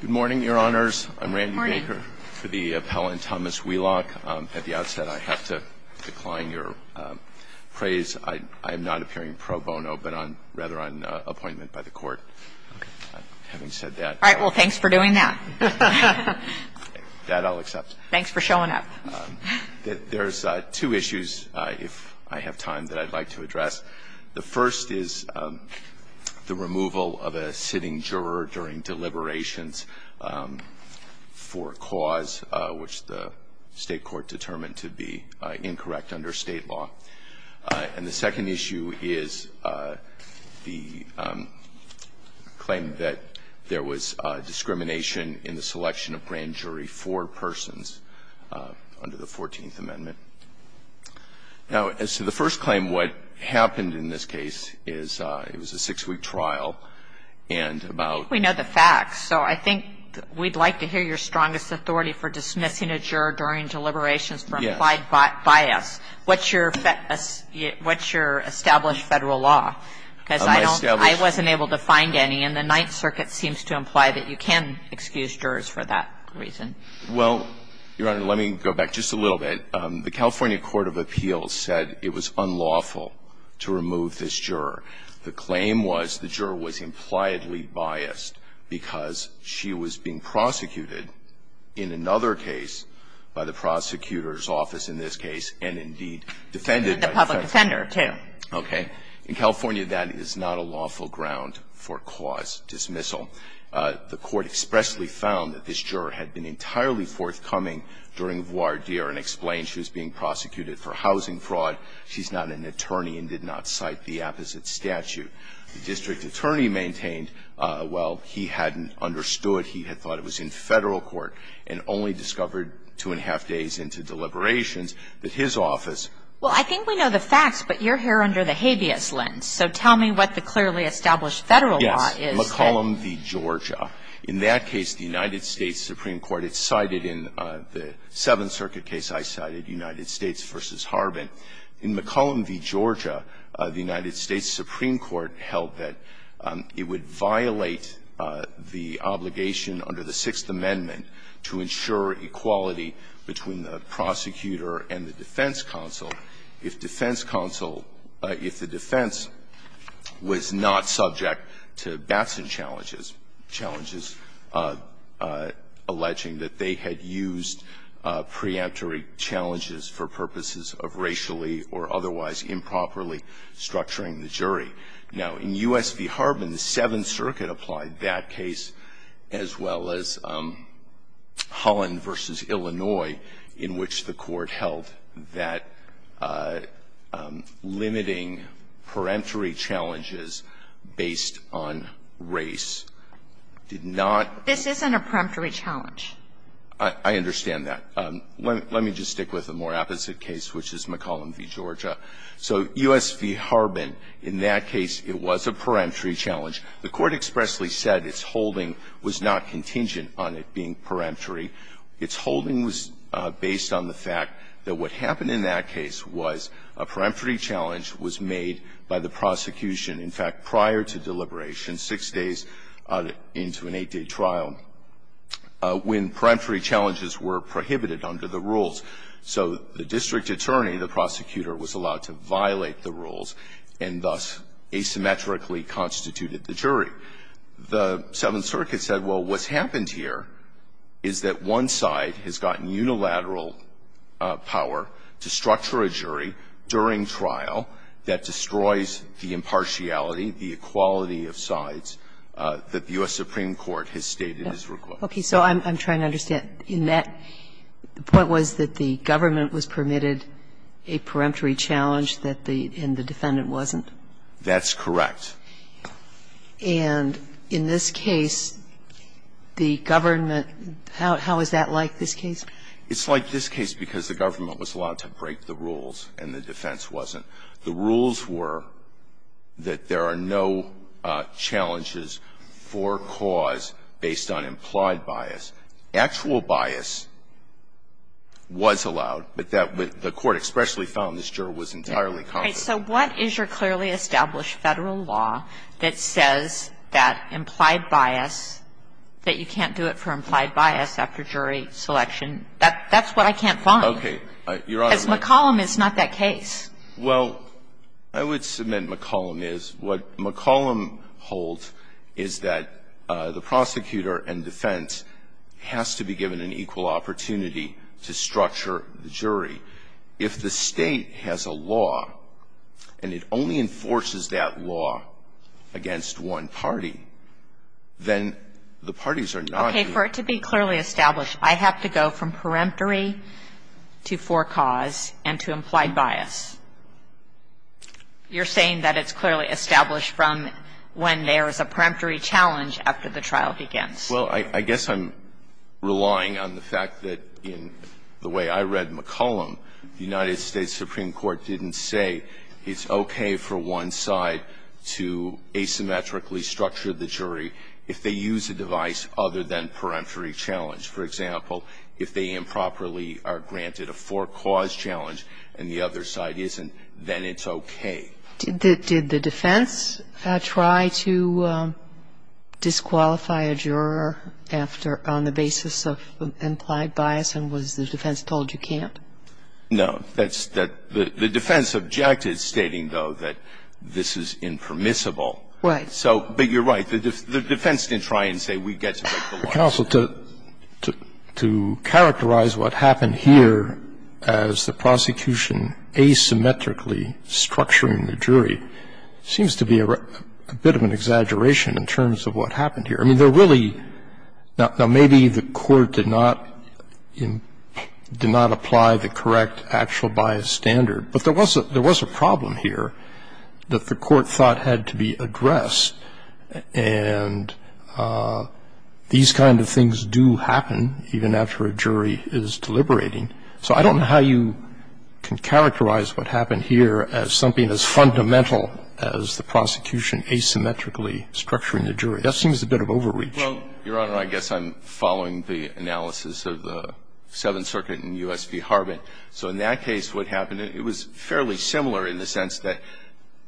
Good morning, Your Honors. I'm Randy Baker for the appellant Thomas Wheelock. At the outset, I have to decline your praise. I'm not appearing pro bono, but I'm rather on appointment by the Court, having said that. All right. Well, thanks for doing that. That I'll accept. Thanks for showing up. There's two issues, if I have time, that I'd like to address. The first is the removal of a sitting juror during deliberations for a cause, which the State court determined to be incorrect under State law. And the second issue is the claim that there was discrimination in the selection of grand jury for persons under the Fourteenth Amendment. Now, as to the first claim, what happened in this case is it was a six-week trial, and about ---- We know the facts. So I think we'd like to hear your strongest authority for dismissing a juror during deliberations for implied bias. What's your established Federal law? Because I wasn't able to find any, and the Ninth Circuit seems to imply that you can excuse jurors for that reason. Well, Your Honor, let me go back just a little bit. The California Court of Appeals said it was unlawful to remove this juror. The claim was the juror was impliedly biased because she was being prosecuted in another case by the prosecutor's office in this case, and indeed defended by the Federal court. And the public defender, too. Okay. In California, that is not a lawful ground for cause dismissal. The Court expressly found that this juror had been entirely forthcoming during the trial. She was being prosecuted for housing fraud. She's not an attorney and did not cite the apposite statute. The district attorney maintained, well, he hadn't understood. He had thought it was in Federal court and only discovered two-and-a-half days into deliberations that his office ---- Well, I think we know the facts, but you're here under the habeas lens. So tell me what the clearly established Federal law is. Yes. McCollum v. Georgia. In that case, the United States Supreme Court, it's cited in the Seventh Circuit case I cited, United States v. Harbin. In McCollum v. Georgia, the United States Supreme Court held that it would violate the obligation under the Sixth Amendment to ensure equality between the prosecutor and the defense counsel if defense counsel ---- if the defense was not subject to Batson challenges, alleging that they had used preemptory challenges for purposes of racially or otherwise improperly structuring the jury. Now, in U.S. v. Harbin, the Seventh Circuit applied that case, as well as Holland v. Illinois, in which the Court held that limiting preemptory challenges based on race did not ---- This isn't a preemptory challenge. I understand that. Let me just stick with a more opposite case, which is McCollum v. Georgia. So U.S. v. Harbin, in that case, it was a preemptory challenge. The Court expressly said its holding was not contingent on it being preemptory. Its holding was based on the fact that what happened in that case was a preemptory challenge was made by the prosecution. In fact, prior to deliberation, six days into an eight-day trial, when preemptory challenges were prohibited under the rules, so the district attorney, the prosecutor, was allowed to violate the rules and thus asymmetrically constituted the jury. The Seventh Circuit said, well, what's happened here is that one side has gotten unilateral power to structure a jury during trial that destroys the impartial reality, the equality of sides, that the U.S. Supreme Court has stated is required. Okay. So I'm trying to understand, in that, the point was that the government was permitted a preemptory challenge that the defendant wasn't? That's correct. And in this case, the government ---- how is that like, this case? It's like this case because the government was allowed to break the rules and the defense wasn't. The rules were that there are no challenges for cause based on implied bias. Actual bias was allowed, but that the court expressly found this juror was entirely confident. Okay. So what is your clearly established Federal law that says that implied bias, that you can't do it for implied bias after jury selection? That's what I can't find. Okay. Your Honor, let me ---- Because McCollum is not that case. Well, I would submit McCollum is. What McCollum holds is that the prosecutor and defense has to be given an equal opportunity to structure the jury. If the State has a law and it only enforces that law against one party, then the parties are not ---- Okay. For it to be clearly established, I have to go from preemptory to for cause and to preemptory. You're saying that it's clearly established from when there is a preemptory challenge after the trial begins. Well, I guess I'm relying on the fact that in the way I read McCollum, the United States Supreme Court didn't say it's okay for one side to asymmetrically structure the jury if they use a device other than preemptory challenge. For example, if they improperly are granted a for cause challenge and the other side isn't, then it's okay. Did the defense try to disqualify a juror after ---- on the basis of implied bias, and was the defense told you can't? No. That's the ---- the defense objected, stating, though, that this is impermissible. Right. So ---- but you're right. The defense didn't try and say we get to make the law. Well, counsel, to characterize what happened here as the prosecution asymmetrically structuring the jury seems to be a bit of an exaggeration in terms of what happened here. I mean, there really ---- now, maybe the court did not apply the correct actual bias standard, but there was a problem here that the court thought had to be addressed. And these kind of things do happen even after a jury is deliberating. So I don't know how you can characterize what happened here as something as fundamental as the prosecution asymmetrically structuring the jury. That seems a bit of overreach. Well, Your Honor, I guess I'm following the analysis of the Seventh Circuit and U.S.P. Harbin. So in that case, what happened, it was fairly similar in the sense that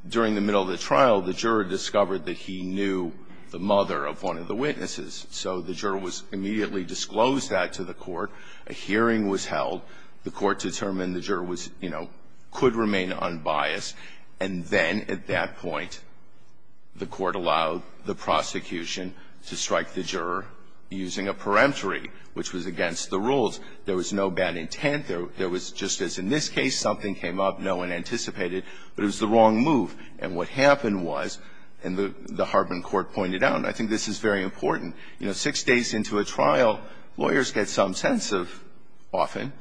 during the middle of the trial, the juror discovered that he knew the mother of one of the witnesses. So the juror was immediately disclosed that to the court. A hearing was held. The court determined the juror was, you know, could remain unbiased. And then at that point, the court allowed the prosecution to strike the juror using a peremptory, which was against the rules. There was no bad intent. There was just as in this case, something came up no one anticipated, but it was the wrong move. And what happened was, and the Harbin court pointed out, and I think this is very important, you know, six days into a trial, lawyers get some sense of, often,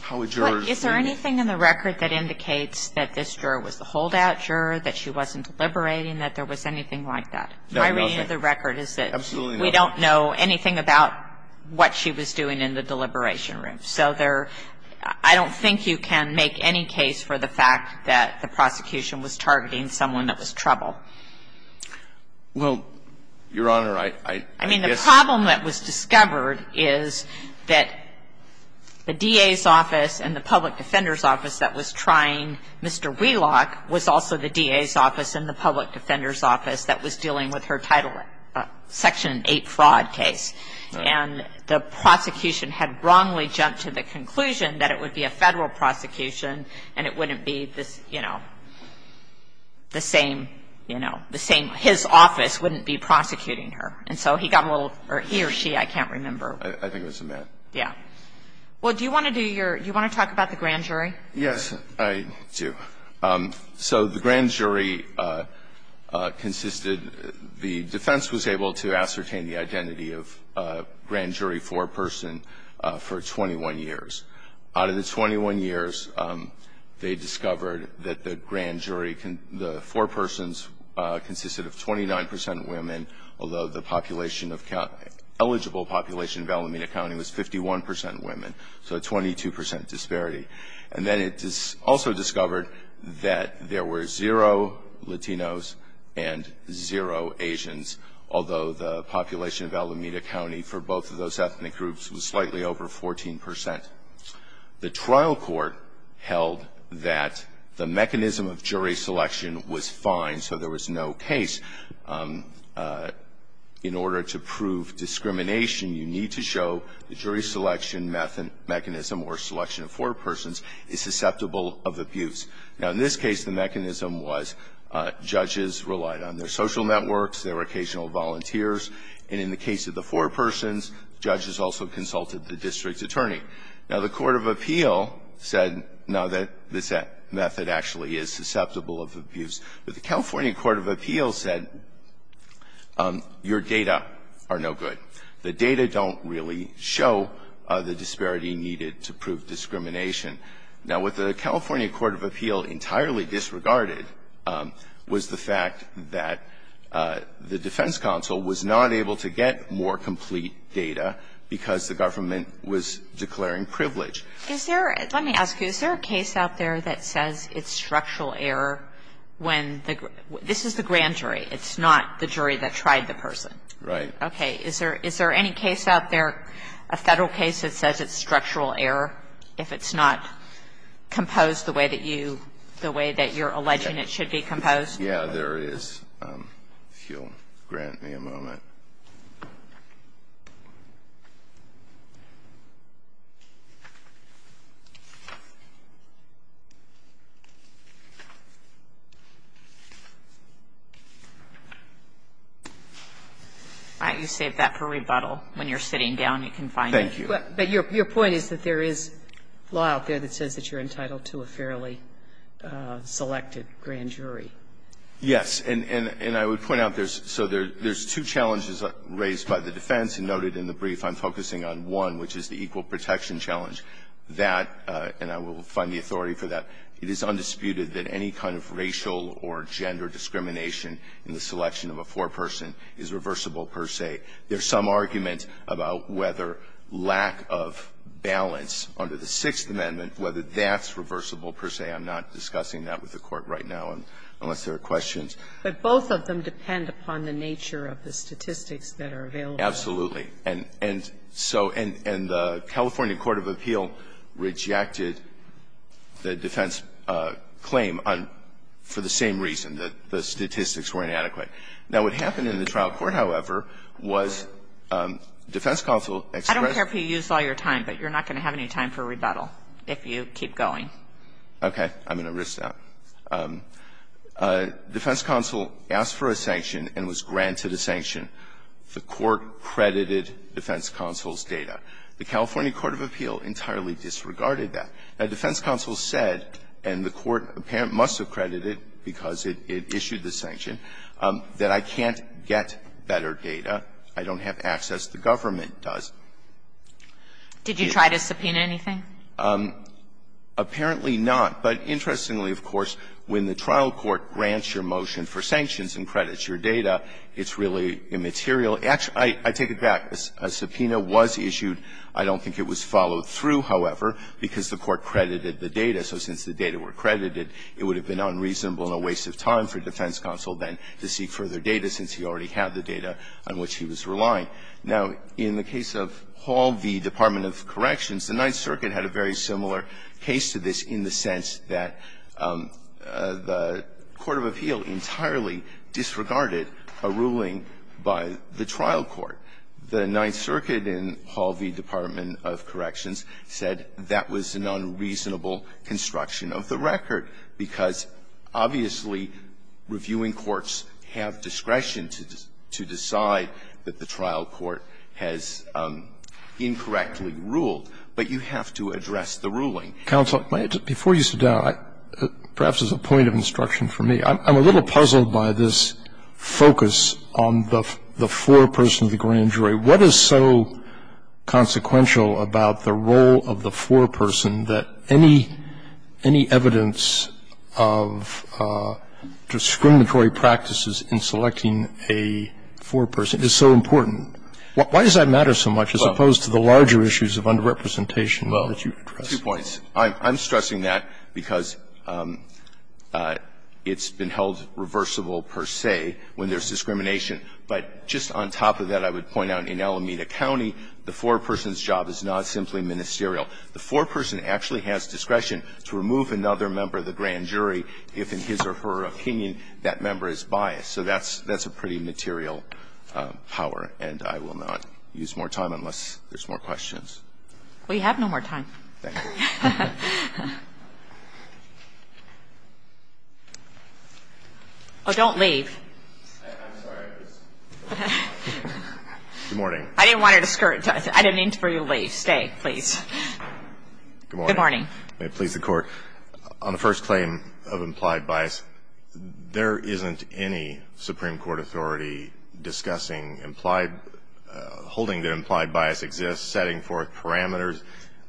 how a juror's doing it. But is there anything in the record that indicates that this juror was the holdout juror, that she wasn't deliberating, that there was anything like that? No, Your Honor. My reading of the record is that we don't know anything about what she was doing in the deliberation room. So there are – I don't think you can make any case for the fact that the prosecution was targeting someone that was trouble. Well, Your Honor, I guess – I mean, the problem that was discovered is that the D.A.'s office and the public defender's office that was trying Mr. Wheelock was also the D.A.'s office and the public defender's office that was dealing with her Title – Section 8 fraud case. And the prosecution had wrongly jumped to the conclusion that it would be a Federal prosecution and it wouldn't be this, you know, the same, you know, the same – his office wouldn't be prosecuting her. And so he got a little – or he or she, I can't remember. I think it was a man. Yeah. Well, do you want to do your – do you want to talk about the grand jury? Yes, I do. So the grand jury consisted – the defense was able to ascertain the identity of grand jury for a person for 21 years. Out of the 21 years, they discovered that the grand jury – the four persons consisted of 29 percent women, although the population of – eligible population of Alameda County was 51 percent women, so a 22 percent disparity. And then it also discovered that there were zero Latinos and zero Asians, although the population of Alameda County for both of those ethnic groups was slightly over 14 percent. The trial court held that the mechanism of jury selection was fine, so there was no case. In order to prove discrimination, you need to show the jury selection mechanism or selection of four persons is susceptible of abuse. Now, in this case, the mechanism was judges relied on their social networks, their occasional volunteers, and in the case of the four persons, judges also consulted the district's attorney. Now, the court of appeal said, no, this method actually is susceptible of abuse. But the California court of appeal said, your data are no good. The data don't really show the disparity needed to prove discrimination. Now, what the California court of appeal entirely disregarded was the fact that the government was declaring privilege. Kagan, is there a case out there that says it's structural error when the grant jury, it's not the jury that tried the person? Right. Okay. Is there any case out there, a Federal case that says it's structural error if it's not composed the way that you, the way that you're alleging it should be composed? Yeah, there is, if you'll grant me a moment. All right. You saved that for rebuttal. When you're sitting down, you can find it. Thank you. But your point is that there is law out there that says that you're entitled to a fairly selected grant jury. Yes. And I would point out there's, so there's two challenges raised by the defense. And noted in the brief, I'm focusing on one, which is the equal protection challenge, that, and I will find the authority for that, it is undisputed that any kind of racial or gender discrimination in the selection of a foreperson is reversible per se. There's some argument about whether lack of balance under the Sixth Amendment, whether that's reversible per se. But both of them depend upon the nature of the statistics that are available. Absolutely. And so, and the California court of appeal rejected the defense claim on, for the same reason, that the statistics were inadequate. Now, what happened in the trial court, however, was defense counsel expressed I don't care if you use all your time, but you're not going to have any time for rebuttal if you keep going. Okay. I'm going to risk that. Defense counsel asked for a sanction and was granted a sanction. The court credited defense counsel's data. The California court of appeal entirely disregarded that. Now, defense counsel said, and the court apparently must have credited because it issued the sanction, that I can't get better data. I don't have access. The government does. Did you try to subpoena anything? Apparently not. But interestingly, of course, when the trial court grants your motion for sanctions and credits your data, it's really immaterial. Actually, I take it back. A subpoena was issued. I don't think it was followed through, however, because the court credited the data. So since the data were credited, it would have been unreasonable and a waste of time for defense counsel then to seek further data since he already had the data on which he was relying. Now, in the case of Hall v. Department of Corrections, the Ninth Circuit had a very similar case to this in the sense that the court of appeal entirely disregarded a ruling by the trial court. The Ninth Circuit in Hall v. Department of Corrections said that was an unreasonable construction of the record, because obviously reviewing courts have discretion to decide that the trial court has incorrectly ruled, but you have to address the ruling. Roberts, before you sit down, perhaps as a point of instruction for me, I'm a little puzzled by this focus on the foreperson of the grand jury. What is so consequential about the role of the foreperson that any evidence of discriminatory practices in selecting a foreperson is so important? Why does that matter so much as opposed to the larger issues of underrepresentation that you've addressed? Well, two points. I'm stressing that because it's been held reversible per se when there's discrimination. But just on top of that, I would point out in Alameda County, the foreperson's job is not simply ministerial. The foreperson actually has discretion to remove another member of the grand jury if, in his or her opinion, that member is biased. So that's a pretty material power, and I will not use more time unless there's more questions. We have no more time. Thank you. Oh, don't leave. I'm sorry. Good morning. I didn't want her to skirt. I didn't mean for you to leave. Stay, please. Good morning. May it please the Court. On the first claim of implied bias, there isn't any Supreme Court authority discussing implied – holding that implied bias exists, setting forth parameters.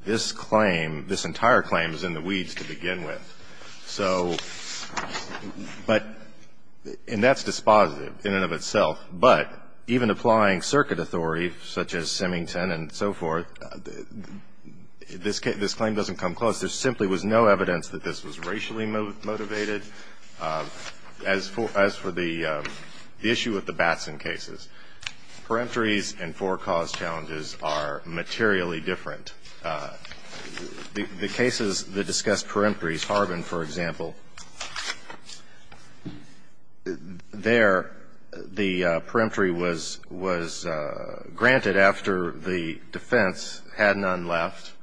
This claim, this entire claim, is in the weeds to begin with. So – but – and that's dispositive in and of itself. But even applying circuit authority, such as Symington and so forth, this claim doesn't come close. There simply was no evidence that this was racially motivated. As for – as for the issue with the Batson cases, peremptories and forecaused challenges are materially different. The cases that discuss peremptories, Harbin, for example, there the peremptory was – was granted after the defense had none left.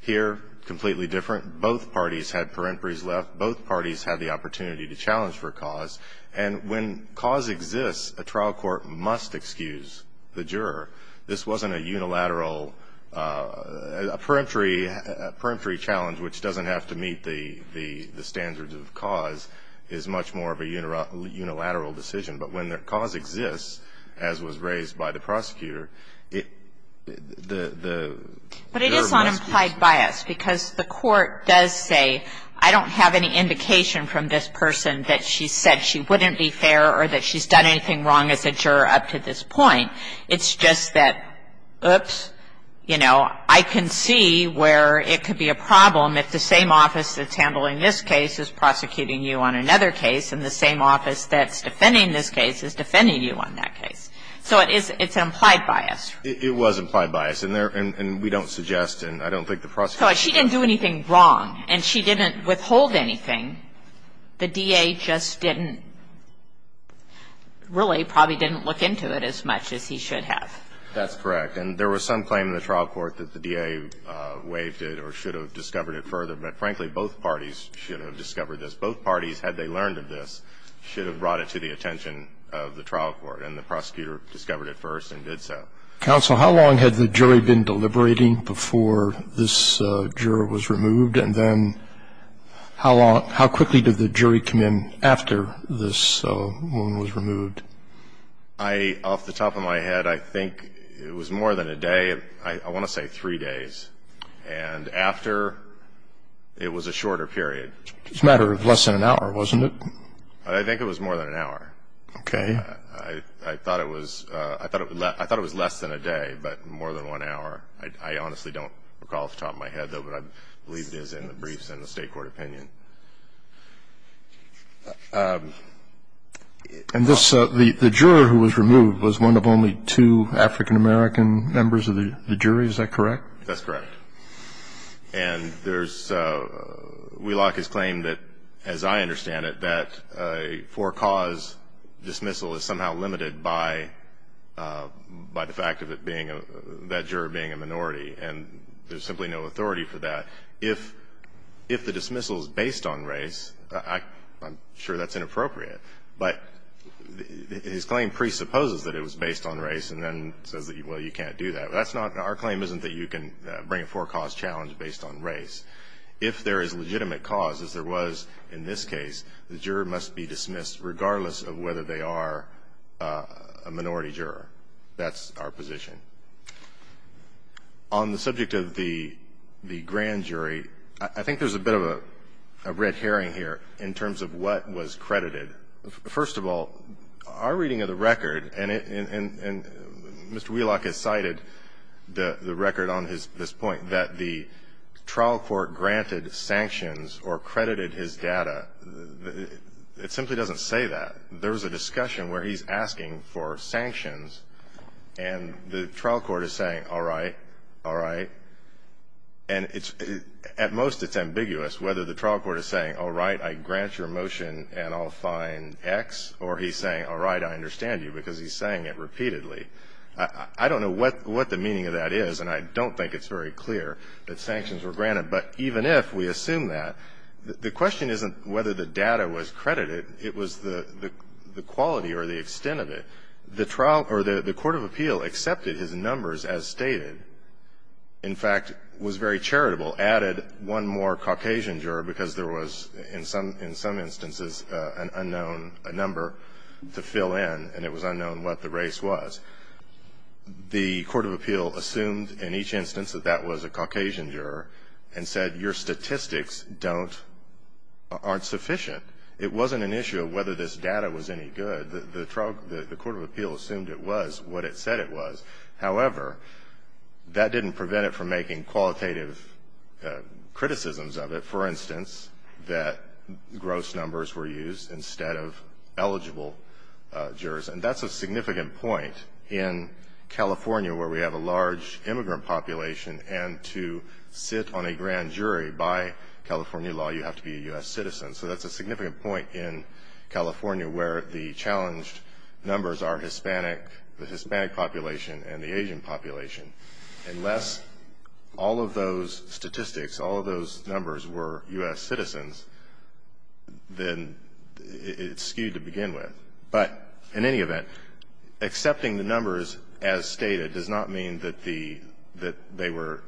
Here, completely different. Both parties had peremptories left. Both parties had the opportunity to challenge for cause. And when cause exists, a trial court must excuse the juror. This wasn't a unilateral – a peremptory – a peremptory challenge, which doesn't have to meet the – the standards of cause, is much more of a unilateral decision. But when the cause exists, as was raised by the prosecutor, it – the juror must GOTTLIEB It's an implied bias, because the court does say, I don't have any indication from this person that she said she wouldn't be fair or that she's done anything wrong as a juror up to this point. It's just that, oops, you know, I can see where it could be a problem if the same office that's handling this case is prosecuting you on another case and the same office that's defending this case is defending you on that case. So it is – it's implied bias. MR. GOTTLIEB I don't think the prosecutor – GOTTLIEB So if she didn't do anything wrong and she didn't withhold anything, the DA just didn't – really probably didn't look into it as much as he should have. MR. GOTTLIEB That's correct. And there was some claim in the trial court that the DA waived it or should have discovered it further. But, frankly, both parties should have discovered this. Both parties, had they learned of this, should have brought it to the attention of the trial court. And the prosecutor discovered it first and did so. MR. ROGERS Counsel, how long had the jury been deliberating before this juror was removed? And then how long – how quickly did the jury come in after this woman was removed? MR. GOTTLIEB I – off the top of my head, I think it was more than a day. I want to say three days. And after, it was a shorter period. MR. ROGERS It was a matter of less than an hour, wasn't it? MR. GOTTLIEB I think it was more than an hour. MR. ROGERS Okay. MR. GOTTLIEB I thought it was – I thought it was less than a day, but more than one hour. I honestly don't recall off the top of my head, though, but I believe it is in the briefs and the state court opinion. MR. ROGERS And this – the juror who was removed was one of only two African American members of the jury. Is that correct? MR. GOTTLIEB That's correct. And there's – Wheelock has claimed that, as I understand it, that a for-cause dismissal is somehow limited by the fact of it being – that juror being a minority. And there's simply no authority for that. If the dismissal is based on race, I'm sure that's inappropriate. But his claim presupposes that it was based on race and then says, well, you can't do that. That's not – our claim isn't that you can bring a for-cause challenge based on race. If there is legitimate cause, as there was in this case, the juror must be dismissed regardless of whether they are a minority juror. That's our position. On the subject of the grand jury, I think there's a bit of a red herring here in terms of what was credited. First of all, our reading of the record, and Mr. Wheelock has cited the record on this point, that the trial court granted sanctions or credited his data. It simply doesn't say that. There was a discussion where he's asking for sanctions, and the trial court is saying, all right, all right. And it's – at most, it's ambiguous whether the trial court is saying, all right, I grant your motion and I'll find X, or he's saying, all right, I understand you, because he's saying it repeatedly. I don't know what the meaning of that is, and I don't think it's very clear that sanctions were granted. But even if we assume that, the question isn't whether the data was credited. It was the quality or the extent of it. The trial – or the court of appeal accepted his numbers as stated, in fact, was very charitable. Added one more Caucasian juror because there was, in some instances, an unknown number to fill in, and it was unknown what the race was. The court of appeal assumed in each instance that that was a Caucasian juror and said, your statistics don't – aren't sufficient. It wasn't an issue of whether this data was any good. The trial – the court of appeal assumed it was what it said it was. However, that didn't prevent it from making qualitative criticisms of it. For instance, that gross numbers were used instead of eligible jurors. And that's a significant point in California where we have a large immigrant population, and to sit on a grand jury by California law, you have to be a U.S. citizen. So that's a significant point in California where the challenged numbers are the Hispanic population and the Asian population. Unless all of those statistics, all of those numbers were U.S. citizens, then it's skewed to begin with. But in any event, accepting the numbers as stated does not mean that the – that they were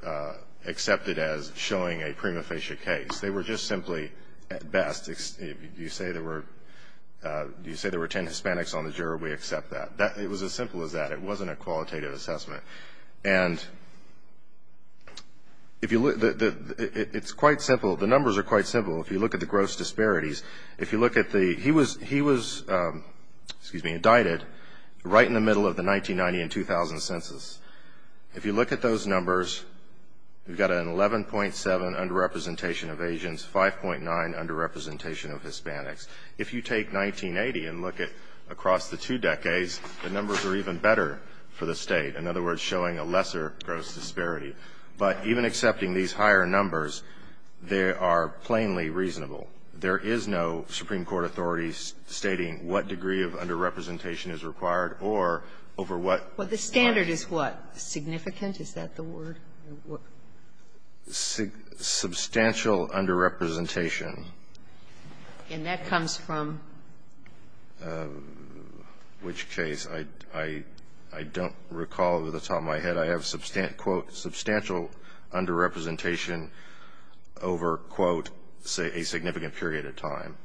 accepted as showing a prima facie case. They were just simply at best. If you say there were 10 Hispanics on the juror, we accept that. It was as simple as that. It wasn't a qualitative assessment. And if you look – it's quite simple. The numbers are quite simple. If you look at the gross disparities, if you look at the – he was, excuse me, indicted right in the middle of the 1990 and 2000 census. If you look at those numbers, you've got an 11.7 underrepresentation of Asians, 5.9 underrepresentation of Hispanics. If you take 1980 and look at across the two decades, the numbers are even better for the State. In other words, showing a lesser gross disparity. But even accepting these higher numbers, they are plainly reasonable. There is no Supreme Court authority stating what degree of underrepresentation is required or over what – But the standard is what? Significant? Is that the word? Substantial underrepresentation. And that comes from? Which case? I don't recall off the top of my head. I have, quote, substantial underrepresentation over, quote, a significant period of time.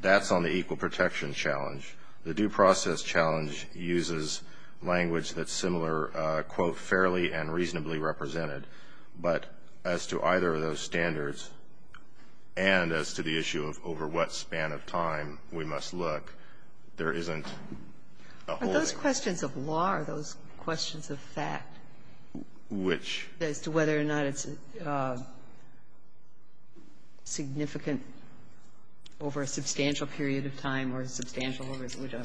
That's on the equal protection challenge. But as to either of those standards and as to the issue of over what span of time we must look, there isn't a holding. Are those questions of law or are those questions of fact? Which? As to whether or not it's significant over a substantial period of time or substantial over whatever.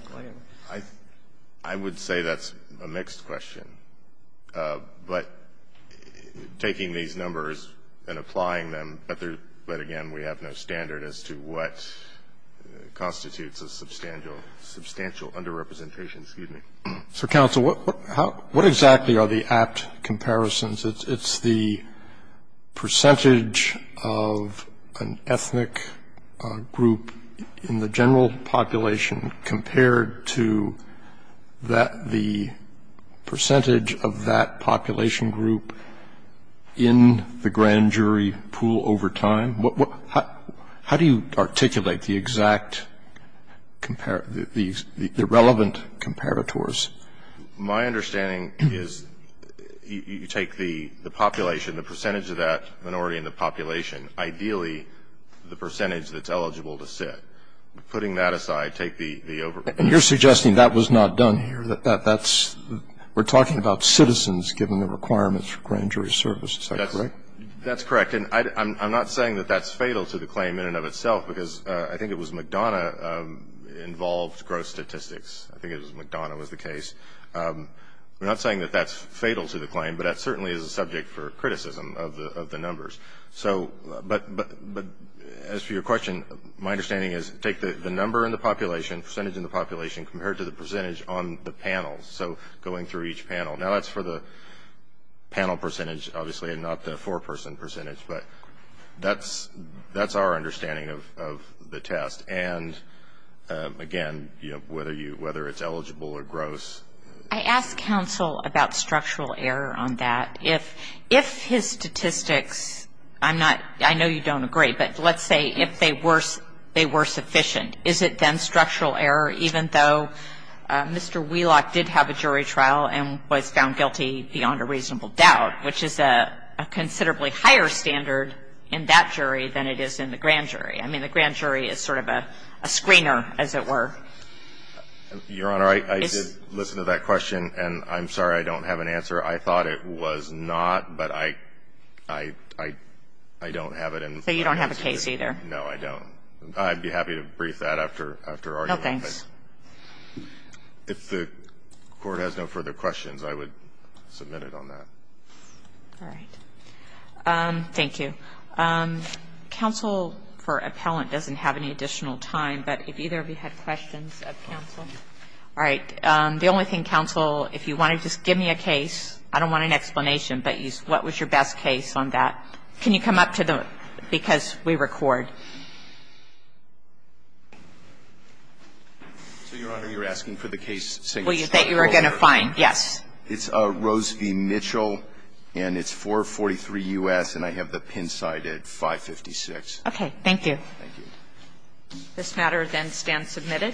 I would say that's a mixed question. But taking these numbers and applying them, but again, we have no standard as to what constitutes a substantial underrepresentation. Excuse me. So, counsel, what exactly are the apt comparisons? It's the percentage of an ethnic group in the general population compared to that percentage of that population group in the grand jury pool over time. How do you articulate the exact, the relevant comparators? My understanding is you take the population, the percentage of that minority in the population, ideally the percentage that's eligible to sit. Putting that aside, take the over. And you're suggesting that was not done here. That's, we're talking about citizens given the requirements for grand jury service. Is that correct? That's correct. And I'm not saying that that's fatal to the claim in and of itself because I think it was McDonough involved gross statistics. I think it was McDonough was the case. We're not saying that that's fatal to the claim, but that certainly is a subject for criticism of the numbers. So, but as for your question, my understanding is take the number in the population, percentage in the population compared to the percentage on the panel. So, going through each panel. Now, that's for the panel percentage, obviously, and not the four-person percentage. But that's our understanding of the test. And, again, you know, whether it's eligible or gross. I asked counsel about structural error on that. If his statistics, I'm not, I know you don't agree, but let's say if they were sufficient, is it then structural error even though Mr. Wheelock did have a jury trial and was found guilty beyond a reasonable doubt, which is a considerably higher standard in that jury than it is in the grand jury? I mean, the grand jury is sort of a screener, as it were. Your Honor, I did listen to that question, and I'm sorry I don't have an answer. I thought it was not, but I don't have it in front of me. So you don't have a case either? No, I don't. I'd be happy to brief that after argument. No, thanks. If the Court has no further questions, I would submit it on that. All right. Thank you. Counsel for appellant doesn't have any additional time, but if either of you have questions of counsel. All right. The only thing, counsel, if you want to just give me a case. I don't want an explanation, but what was your best case on that? Can you come up to the, because we record. So, Your Honor, you're asking for the case. That you are going to find. Yes. It's Rose v. Mitchell, and it's 443 U.S., and I have the pin side at 556. Okay. Thank you. Thank you. This matter then stands submitted.